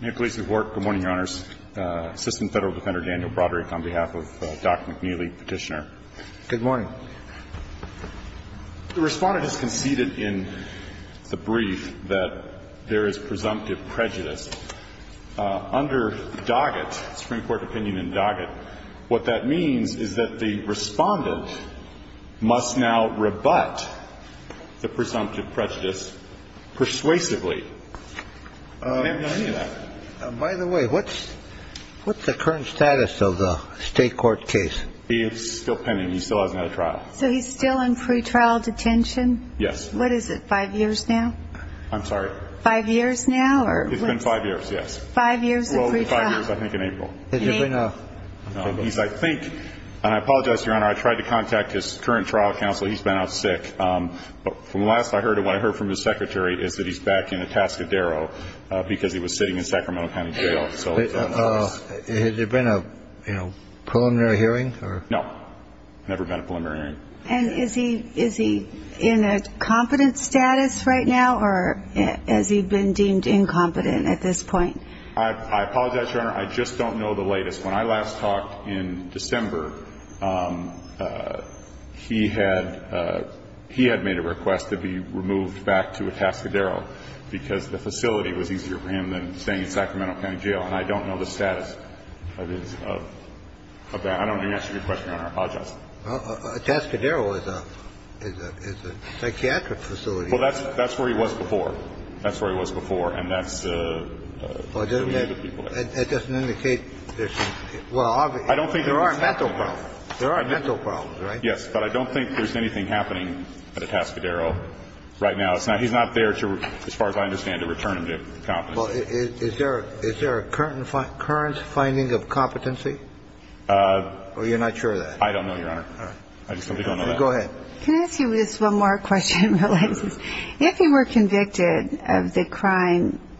Good morning, Your Honors. Assistant Federal Defender Daniel Broderick on behalf of Dr. McNeely, petitioner. Good morning. The respondent has conceded in the brief that there is presumptive prejudice. Under Doggett, Supreme Court opinion in Doggett, what that means is that the respondent must now rebut the presumptive prejudice persuasively. By the way, what's the current status of the state court case? It's still pending. He still hasn't had a trial. So he's still in pretrial detention? Yes. What is it, five years now? I'm sorry? Five years now? It's been five years, yes. Five years of pretrial? Well, five years, I think, in April. Has he been a? He's, I think, and I apologize, Your Honor, I tried to contact his current trial counsel. He's been out sick. But from the last I heard of him, what I heard from his secretary is that he's back in Atascadero because he was sitting in Sacramento County Jail. Has there been a preliminary hearing? No, never been a preliminary hearing. And is he in a competent status right now or has he been deemed incompetent at this point? I apologize, Your Honor, I just don't know the latest. When I last talked in December, he had made a request to be removed back to Atascadero because the facility was easier for him than staying in Sacramento County Jail. And I don't know the status of that. I don't know the answer to your question, Your Honor. I apologize. Atascadero is a psychiatric facility. Well, that's where he was before. That's where he was before. And that's where we knew the people there. Well, it doesn't indicate there's some – well, obviously, there are mental problems. There are mental problems, right? Yes, but I don't think there's anything happening at Atascadero right now. He's not there, as far as I understand it, to return him to competence. Well, is there a current finding of competency? Or you're not sure of that? I don't know, Your Honor. All right. I just don't think I know that. Go ahead. Can I ask you just one more question, real quick? If you were convicted of the crime –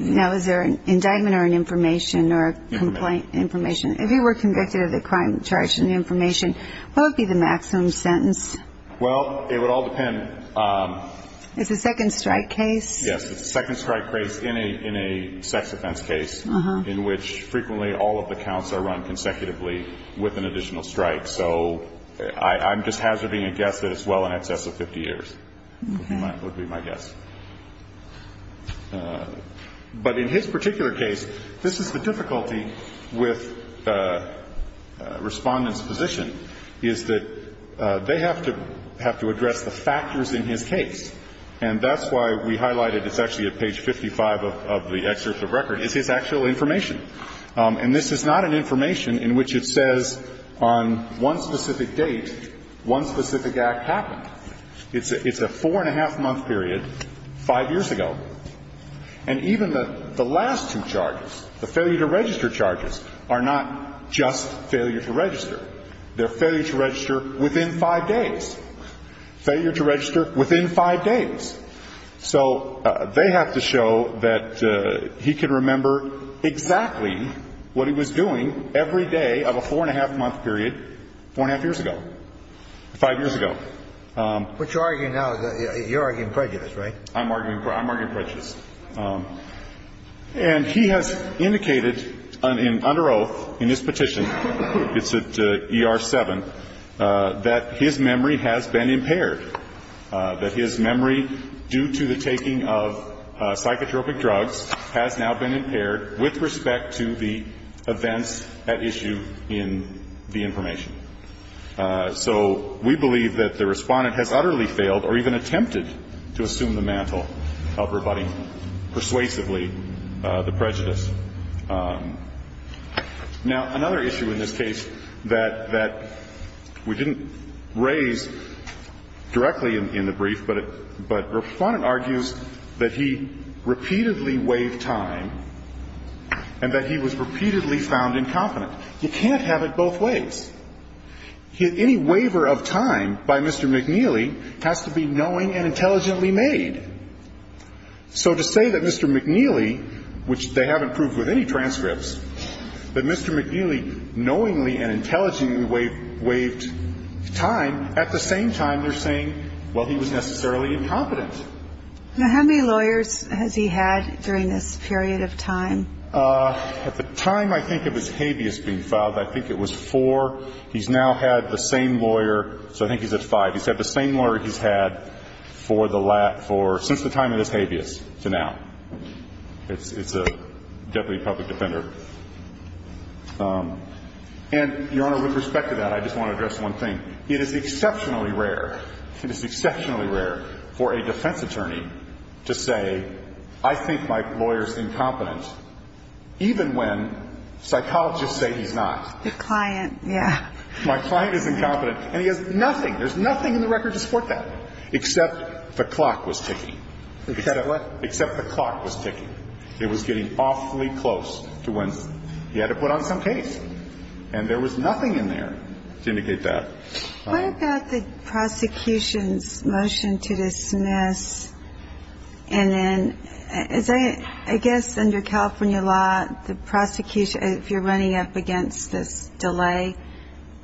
now, is there an indictment or an information or a complaint? Information. If you were convicted of the crime charged in the information, what would be the maximum sentence? Well, it would all depend. It's a second strike case? Yes. It's a second strike case in a sex offense case in which frequently all of the counts are run consecutively with an additional strike. So I'm just hazarding a guess that it's well in excess of 50 years would be my guess. But in his particular case, this is the difficulty with Respondent's position, is that they have to address the factors in his case. And that's why we highlighted – it's actually at page 55 of the excerpt of record – is his actual information. And this is not an information in which it says on one specific date, one specific act happened. It's a four-and-a-half-month period five years ago. And even the last two charges, the failure to register charges, are not just failure to register. They're failure to register within five days. Failure to register within five days. So they have to show that he can remember exactly what he was doing every day of a four-and-a-half-month period four-and-a-half years ago, five years ago. But you're arguing now – you're arguing prejudice, right? I'm arguing prejudice. And he has indicated under oath in his petition – it's at ER-7 – that his memory has been impaired. That his memory, due to the taking of psychotropic drugs, has now been impaired with respect to the events at issue in the information. So we believe that the Respondent has utterly failed or even attempted to assume the mantle of rebutting persuasively the prejudice. Now, another issue in this case that we didn't raise directly in the brief, but Respondent argues that he repeatedly waived time and that he was repeatedly found incompetent. You can't have it both ways. Any waiver of time by Mr. McNeely has to be knowing and intelligently made. So to say that Mr. McNeely – which they haven't proved with any transcripts – that Mr. McNeely knowingly and intelligently waived time, at the same time they're saying, well, he was necessarily incompetent. Now, how many lawyers has he had during this period of time? At the time I think of his habeas being filed, I think it was four. He's now had the same lawyer – so I think he's at five. He's had the same lawyer he's had for the last – since the time of his habeas to now. It's a deputy public defender. And, Your Honor, with respect to that, I just want to address one thing. It is exceptionally rare. It is exceptionally rare for a defense attorney to say, I think my lawyer's incompetent, even when psychologists say he's not. Your client, yeah. My client is incompetent. And he has nothing – there's nothing in the record to support that, except the clock was ticking. Except what? Except the clock was ticking. It was getting awfully close to when he had to put on some case. And there was nothing in there to indicate that. What about the prosecution's motion to dismiss? And then I guess under California law, the prosecution – if you're running up against this delay,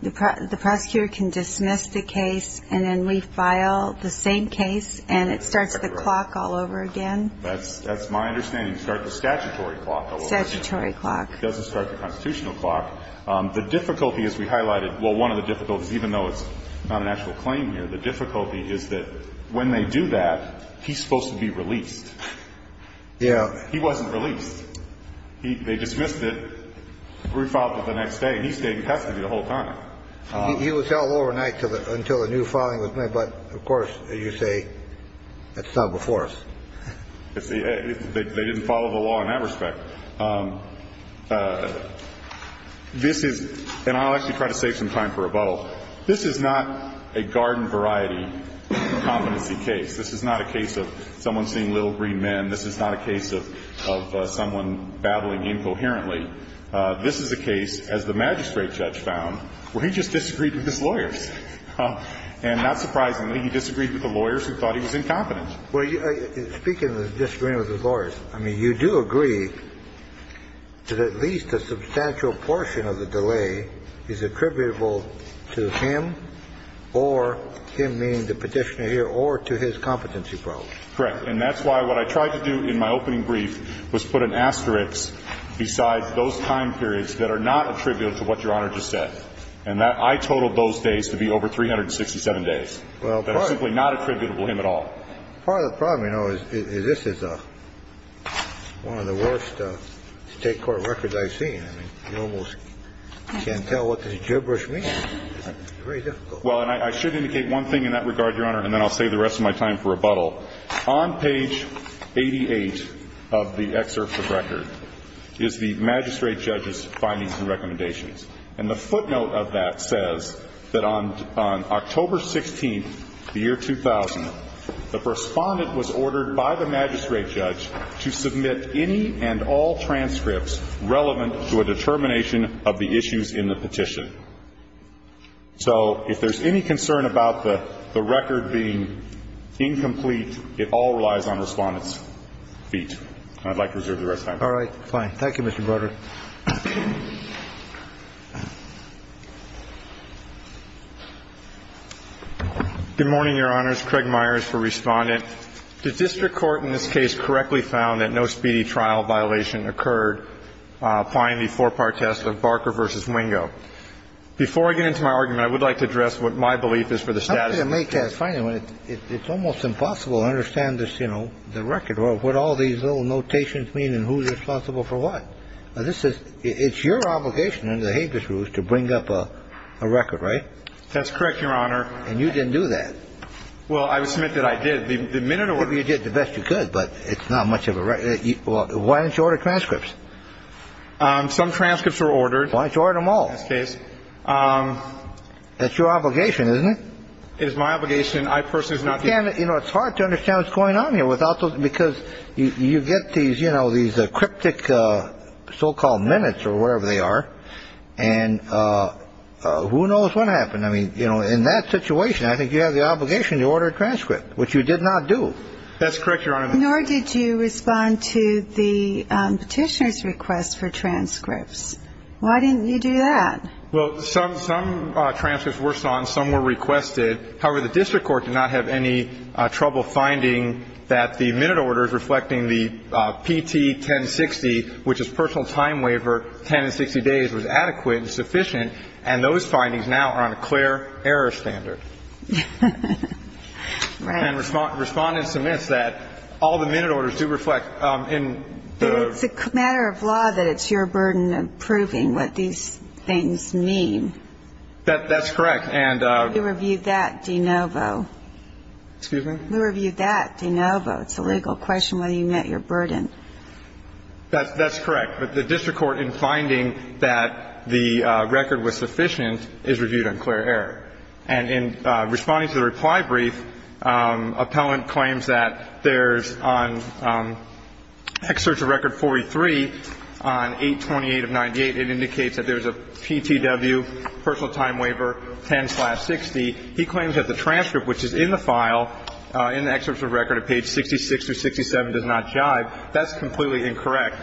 the prosecutor can dismiss the case and then refile the same case and it starts the clock all over again? That's my understanding. It starts the statutory clock all over again. Statutory clock. It doesn't start the constitutional clock. The difficulty, as we highlighted – well, one of the difficulties, even though it's not an actual claim here, the difficulty is that when they do that, he's supposed to be released. Yeah. He wasn't released. They dismissed it, refiled it the next day, and he stayed in custody the whole time. He was held overnight until a new filing was made. But, of course, as you say, that's not before us. They didn't follow the law in that respect. This is – and I'll actually try to save some time for rebuttal. This is not a garden variety competency case. This is not a case of someone seeing little green men. This is not a case of someone babbling incoherently. This is a case, as the magistrate judge found, where he just disagreed with his lawyers. And not surprisingly, he disagreed with the lawyers who thought he was incompetent. Well, speaking of disagreeing with the lawyers, I mean, you do agree that at least a substantial portion of the delay is attributable to him or him, meaning the Petitioner here, or to his competency problem. Correct. And that's why what I tried to do in my opening brief was put an asterisk beside those time periods that are not attributable to what Your Honor just said. And that – I totaled those days to be over 367 days. Well, of course. That are simply not attributable to him at all. Part of the problem, you know, is this is one of the worst State court records I've seen. I mean, you almost can't tell what the gibberish means. It's very difficult. Well, and I should indicate one thing in that regard, Your Honor, and then I'll save the rest of my time for rebuttal. On page 88 of the excerpt of the record is the magistrate judge's findings and recommendations. And the footnote of that says that on October 16th, the year 2000, the Respondent was ordered by the magistrate judge to submit any and all transcripts relevant to a determination of the issues in the petition. So if there's any concern about the record being incomplete, it all relies on Respondent's feet. And I'd like to reserve the rest of my time. All right. Thank you, Mr. Broderick. Good morning, Your Honors. Craig Myers for Respondent. The district court in this case correctly found that no speedy trial violation occurred applying the four-part test of Barker v. Wingo. Before I get into my argument, I would like to address what my belief is for the status of this case. I'm going to make that final. It's almost impossible to understand this, you know, the record, what all these little notations mean and who's responsible for what. This is it's your obligation under the Habeas rules to bring up a record, right? That's correct, Your Honor. And you didn't do that. Well, I would submit that I did. The minute or whatever you did the best you could. But it's not much of a right. Why didn't you order transcripts? Some transcripts were ordered. Why didn't you order them all? That's your obligation, isn't it? It is my obligation. You know, it's hard to understand what's going on here without those because you get these, you know, these cryptic so-called minutes or wherever they are. And who knows what happened? I mean, you know, in that situation, I think you have the obligation to order a transcript, which you did not do. That's correct, Your Honor. Nor did you respond to the petitioner's request for transcripts. Why didn't you do that? Well, some transcripts were sought and some were requested. However, the district court did not have any trouble finding that the minute orders reflecting the PT-1060, which is personal time waiver, 10 and 60 days, was adequate and sufficient. And those findings now are on a clear error standard. Right. And Respondent submits that all the minute orders do reflect. But it's a matter of law that it's your burden of proving what these things mean. That's correct. And we reviewed that de novo. Excuse me? We reviewed that de novo. It's a legal question whether you met your burden. That's correct. But the district court, in finding that the record was sufficient, is reviewed on clear error. And in responding to the reply brief, appellant claims that there's on Excerpt of Record 43 on 828 of 98, it indicates that there's a PTW, personal time waiver, 10-60. He claims that the transcript, which is in the file, in the Excerpt of Record, at page 66 through 67, does not jive. That's completely incorrect.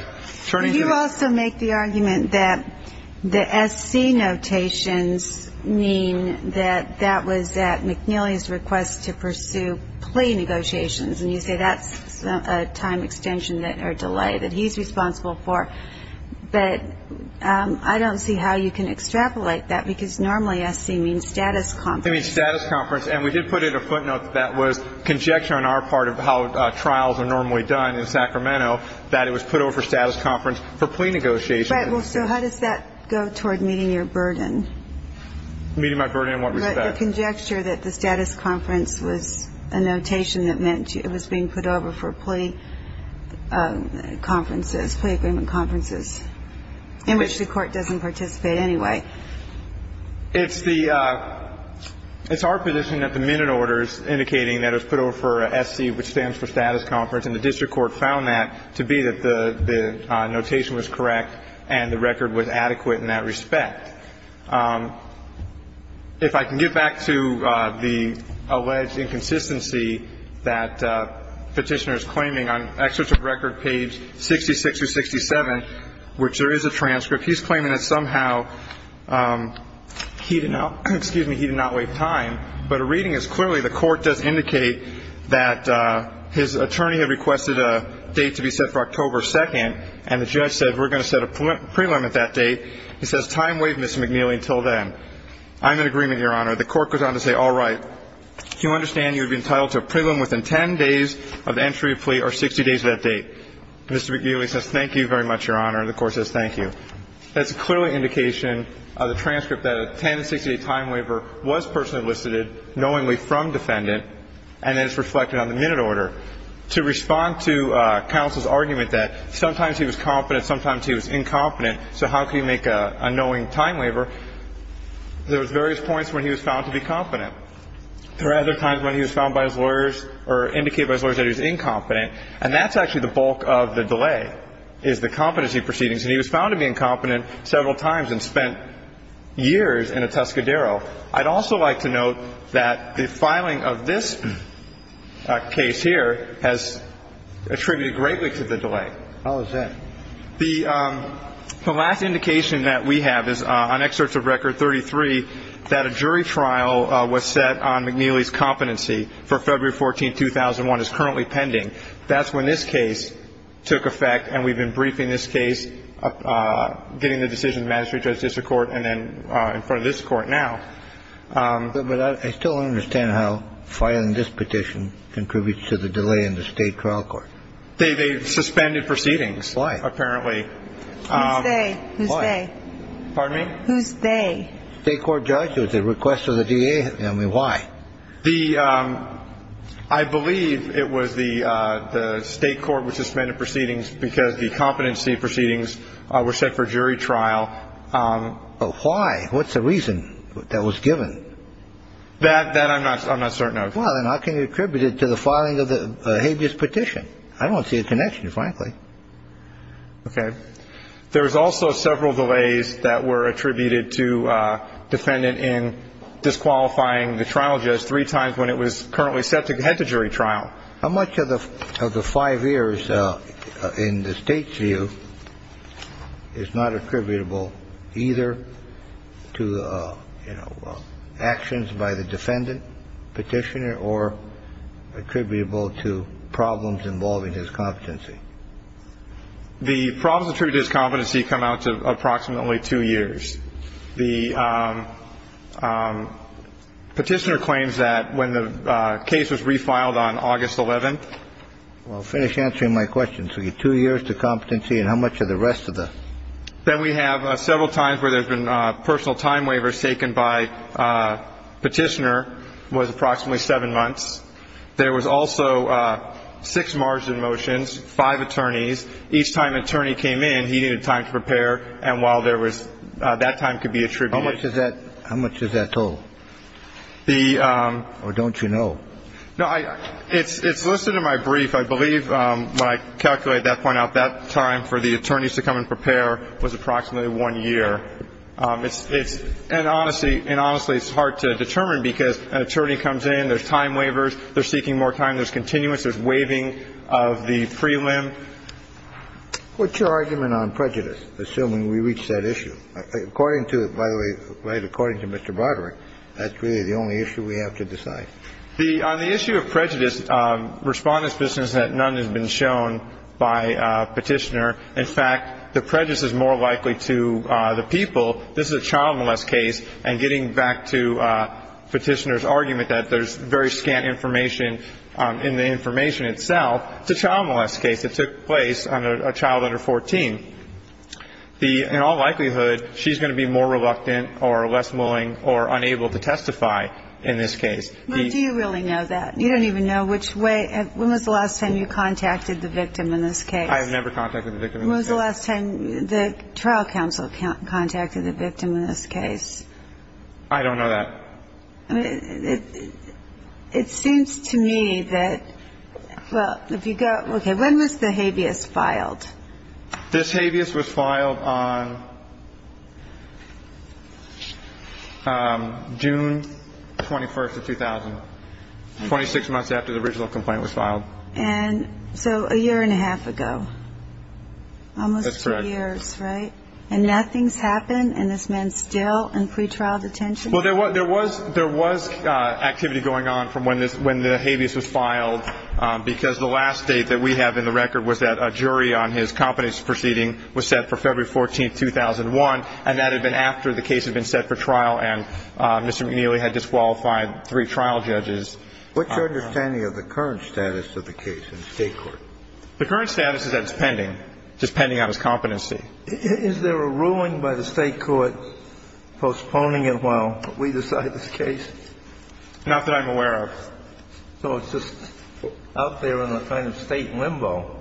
Turning to the next. You also make the argument that the SC notations mean that that was at McNeely's request to pursue plea negotiations. And you say that's a time extension or delay that he's responsible for. But I don't see how you can extrapolate that, because normally SC means status conference. It means status conference. And we did put in a footnote that that was conjecture on our part of how trials are normally done in Sacramento, that it was put over for status conference for plea negotiations. Right. Well, so how does that go toward meeting your burden? Meeting my burden in what respect? The conjecture that the status conference was a notation that meant it was being put over for plea conferences, not just plea agreement conferences, in which the Court doesn't participate anyway. It's the – it's our position that the minute order is indicating that it was put over for SC, which stands for status conference. And the district court found that to be that the notation was correct and the record was adequate in that respect. If I can get back to the alleged inconsistency that Petitioner is claiming, on Excerpt 667, which there is a transcript. He's claiming that somehow he did not – excuse me, he did not waive time. But a reading is clearly the Court does indicate that his attorney had requested a date to be set for October 2nd, and the judge said, we're going to set a prelim at that date. He says, time waived, Mr. McNeely, until then. I'm in agreement, Your Honor. The Court goes on to say, all right. You understand you have been entitled to a prelim within 10 days of entry of plea or 60 days of that date. Mr. McNeely says, thank you very much, Your Honor. And the Court says, thank you. That's a clear indication of the transcript that a 10-60-day time waiver was personally listed, knowingly from defendant, and that it's reflected on the minute order. To respond to counsel's argument that sometimes he was confident, sometimes he was incompetent, so how can you make a knowing time waiver? There was various points when he was found to be confident. There were other times when he was found by his lawyers or indicated by his lawyers that he was incompetent. And that's actually the bulk of the delay, is the competency proceedings. And he was found to be incompetent several times and spent years in a Tuscadero. I'd also like to note that the filing of this case here has attributed greatly to the delay. How is that? The last indication that we have is on Excerpts of Record 33 that a jury trial was set on McNeely's competency for February 14, 2001. It's currently pending. That's when this case took effect, and we've been briefing this case, getting the decision of the magistrate judge, district court, and then in front of this court now. But I still don't understand how filing this petition contributes to the delay in the state trial court. They suspended proceedings. Why? Apparently. Who's they? Pardon me? Who's they? State court judge. It was a request of the DA. I mean, why? I believe it was the state court which suspended proceedings because the competency proceedings were set for jury trial. But why? What's the reason that was given? That I'm not certain of. Well, then how can you attribute it to the filing of the habeas petition? I don't see a connection, frankly. Okay. There's also several delays that were attributed to defendant in disqualifying the trial judge three times when it was currently set to head to jury trial. How much of the five years in the state's view is not attributable either to actions by the defendant petitioner or attributable to problems involving his competency? The problems attributed to his competency come out to approximately two years. The petitioner claims that when the case was refiled on August 11th. Well, finish answering my question. So you get two years to competency and how much of the rest of the? Then we have several times where there's been personal time waivers taken by petitioner was approximately seven months. There was also six margin motions, five attorneys. Each time an attorney came in, he needed time to prepare. And while there was that time could be attributed. How much is that? How much is that total? The. Or don't you know? No, it's listed in my brief. I believe when I calculate that point out, that time for the attorneys to come and prepare was approximately one year. And honestly, and honestly, it's hard to determine because an attorney comes in, there's time waivers, they're seeking more time, there's continuance, there's waiving of the prelim. What's your argument on prejudice, assuming we reach that issue? According to, by the way, right, according to Mr. Broderick, that's really the only issue we have to decide. On the issue of prejudice, Respondent's position is that none has been shown by petitioner. In fact, the prejudice is more likely to the people. This is a child molest case. And getting back to petitioner's argument that there's very scant information in the information itself, it's a child molest case. It took place on a child under 14. In all likelihood, she's going to be more reluctant or less willing or unable to testify in this case. Do you really know that? You don't even know which way. When was the last time you contacted the victim in this case? I have never contacted the victim in this case. When was the last time the trial counsel contacted the victim in this case? I don't know that. It seems to me that, well, if you go, okay, when was the habeas filed? This habeas was filed on June 21st of 2000, 26 months after the original complaint was filed. And so a year and a half ago. That's correct. Almost two years, right? And nothing's happened, and this man's still in pretrial detention? Well, there was activity going on from when the habeas was filed, because the last date that we have in the record was that a jury on his competence proceeding was set for February 14th, 2001, and that had been after the case had been set for trial and Mr. McNeely had disqualified three trial judges. What's your understanding of the current status of the case in the State court? The current status is that it's pending, just pending on his competency. Is there a ruling by the State court postponing it while we decide this case? Not that I'm aware of. So it's just out there in a kind of State limbo.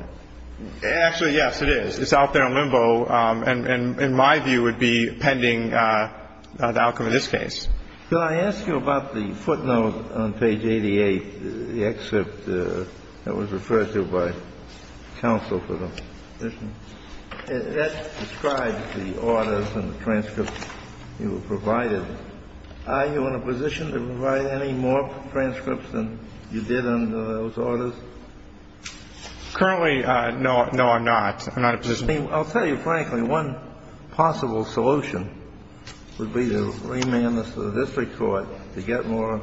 Actually, yes, it is. It's out there in limbo and, in my view, would be pending the outcome of this case. Could I ask you about the footnote on page 88, the excerpt that was referred to by counsel for the position? That describes the orders and the transcripts you were provided. Are you in a position to provide any more transcripts than you did under those orders? Currently, no, I'm not. I'm not in a position. I mean, I'll tell you frankly, one possible solution would be to remand this to the district court to get more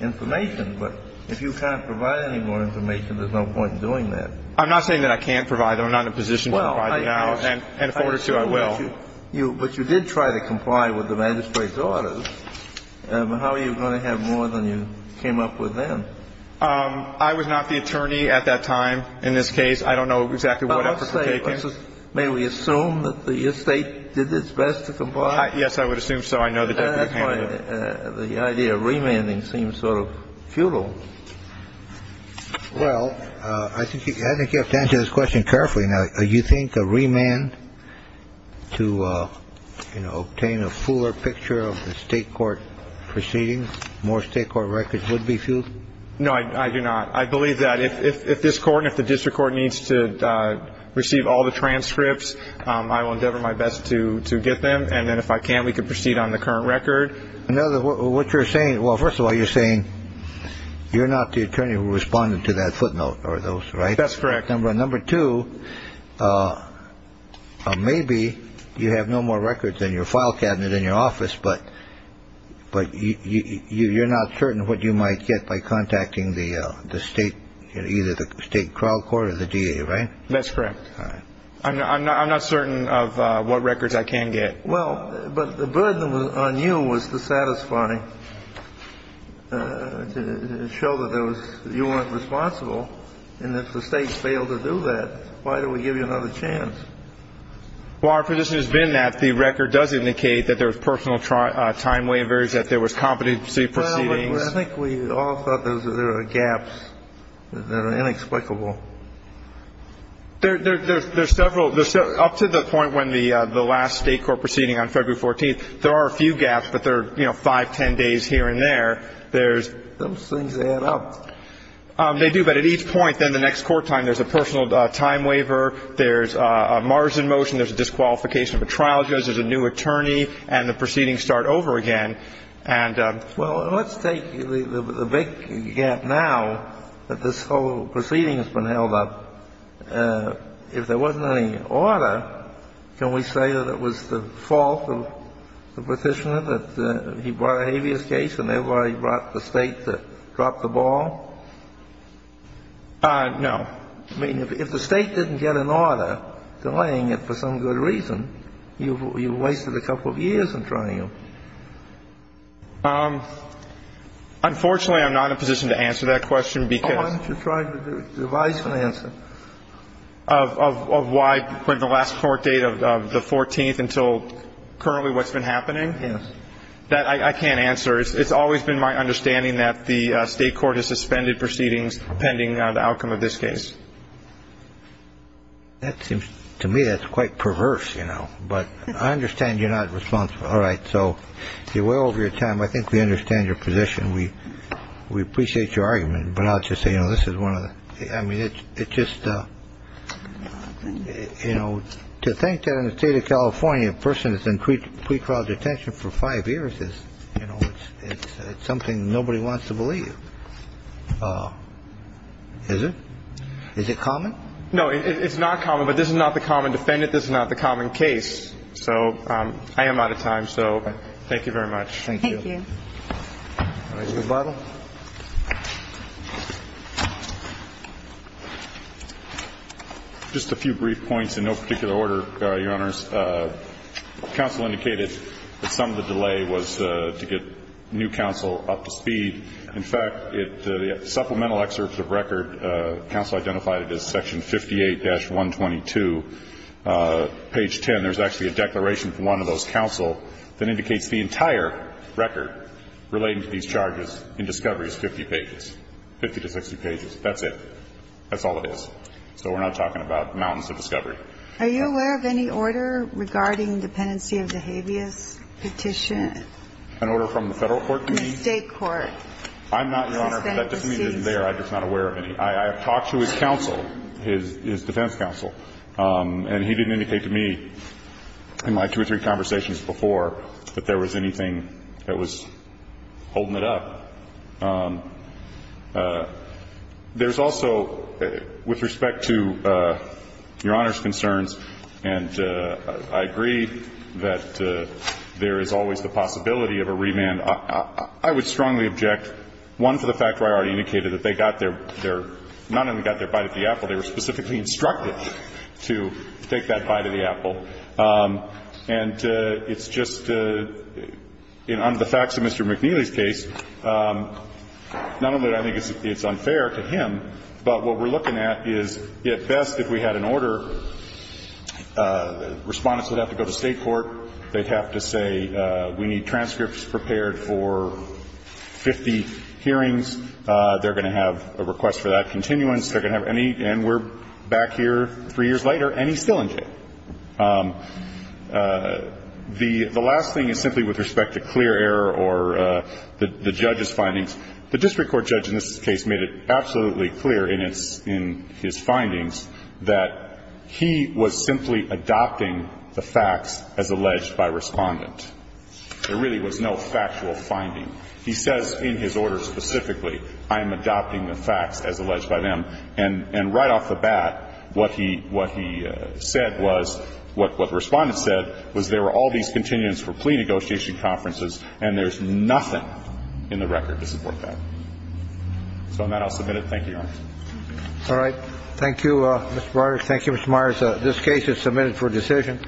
information, but if you can't provide any more information, there's no point in doing that. I'm not saying that I can't provide them. I'm not in a position to provide them now, and if I were to, I will. But you did try to comply with the magistrate's orders. How are you going to have more than you came up with then? I was not the attorney at that time in this case. I don't know exactly what efforts were taken. May we assume that the estate did its best to comply? Yes, I would assume so. I know the Deputy Attorney did. That's why the idea of remanding seems sort of futile. Well, I think you have to answer this question carefully. Now, you think a remand to, you know, obtain a fuller picture of the state court proceedings, more state court records would be futile? No, I do not. I believe that if this court and if the district court needs to receive all the transcripts, I will endeavor my best to get them. And then if I can't, we can proceed on the current record. What you're saying, well, first of all, you're saying you're not the attorney who responded to that footnote, right? That's correct. Number two, maybe you have no more records in your file cabinet in your office, but you're not certain what you might get by contacting the state, either the state trial court or the DA, right? That's correct. All right. I'm not certain of what records I can get. Well, but the burden on you was dissatisfying to show that you weren't responsible. And if the state failed to do that, why do we give you another chance? Well, our position has been that the record does indicate that there was personal time waivers, that there was competency proceedings. Well, I think we all thought there were gaps that are inexplicable. There's several. Up to the point when the last state court proceeding on February 14th, there are a few gaps, but there are, you know, five, ten days here and there. Those things add up. They do. But at each point, then the next court time, there's a personal time waiver, there's a margin motion, there's a disqualification of a trial judge, there's a new attorney, and the proceedings start over again. Well, let's take the big gap now that this whole proceeding has been held up. If there wasn't any order, can we say that it was the fault of the petitioner, that he brought a habeas case and thereby brought the state to drop the ball? No. I mean, if the state didn't get an order delaying it for some good reason, you've wasted a couple of years in trying to. Unfortunately, I'm not in a position to answer that question because. Why don't you try to devise an answer? Of why the last court date of the 14th until currently what's been happening? Yes. I can't answer. It's always been my understanding that the state court has suspended proceedings pending the outcome of this case. To me, that's quite perverse, you know. But I understand you're not responsible. All right. So you're well over your time. I think we understand your position. We appreciate your argument. But I'll just say, you know, this is one of the I mean, it's just, you know, to think that in the state of California, a person is in pre-trial detention for five years is, you know, it's something nobody wants to believe. Is it? Is it common? No, it's not common. But this is not the common defendant. This is not the common case. So I am out of time. So thank you very much. Thank you. Thank you. All right. Mr. Bartlett. Just a few brief points in no particular order, Your Honors. Counsel indicated that some of the delay was to get new counsel up to speed. In fact, the supplemental excerpt of record, counsel identified it as section 58-122, page 10. And there's actually a declaration from one of those counsel that indicates the entire record relating to these charges in discovery is 50 pages, 50 to 60 pages. That's it. That's all it is. So we're not talking about mountains of discovery. Are you aware of any order regarding dependency of the habeas petition? An order from the Federal court to me? State court. I'm not, Your Honor, but that doesn't mean it isn't there. I'm just not aware of any. I have talked to his counsel, his defense counsel. And he didn't indicate to me in my two or three conversations before that there was anything that was holding it up. There's also, with respect to Your Honor's concerns, and I agree that there is always the possibility of a remand. I would strongly object, one, to the fact where I already indicated that they got their not only got their bite of the apple, they were specifically instructed to take that bite of the apple. And it's just under the facts of Mr. McNeely's case, not only do I think it's unfair to him, but what we're looking at is, at best, if we had an order, Respondents would have to go to State court. They'd have to say we need transcripts prepared for 50 hearings. They're going to have a request for that continuance. They're going to have any, and we're back here three years later, and he's still in jail. The last thing is simply with respect to clear error or the judge's findings. The district court judge in this case made it absolutely clear in his findings that he was simply adopting the facts as alleged by Respondent. There really was no factual finding. He says in his order specifically, I am adopting the facts as alleged by them. And right off the bat, what he said was, what Respondent said was there were all these continuance for plea negotiation conferences, and there's nothing in the record to support that. So on that, I'll submit it. Thank you, Your Honor. All right. Thank you, Mr. Breyer. Thank you, Mr. Myers. This case is submitted for decision.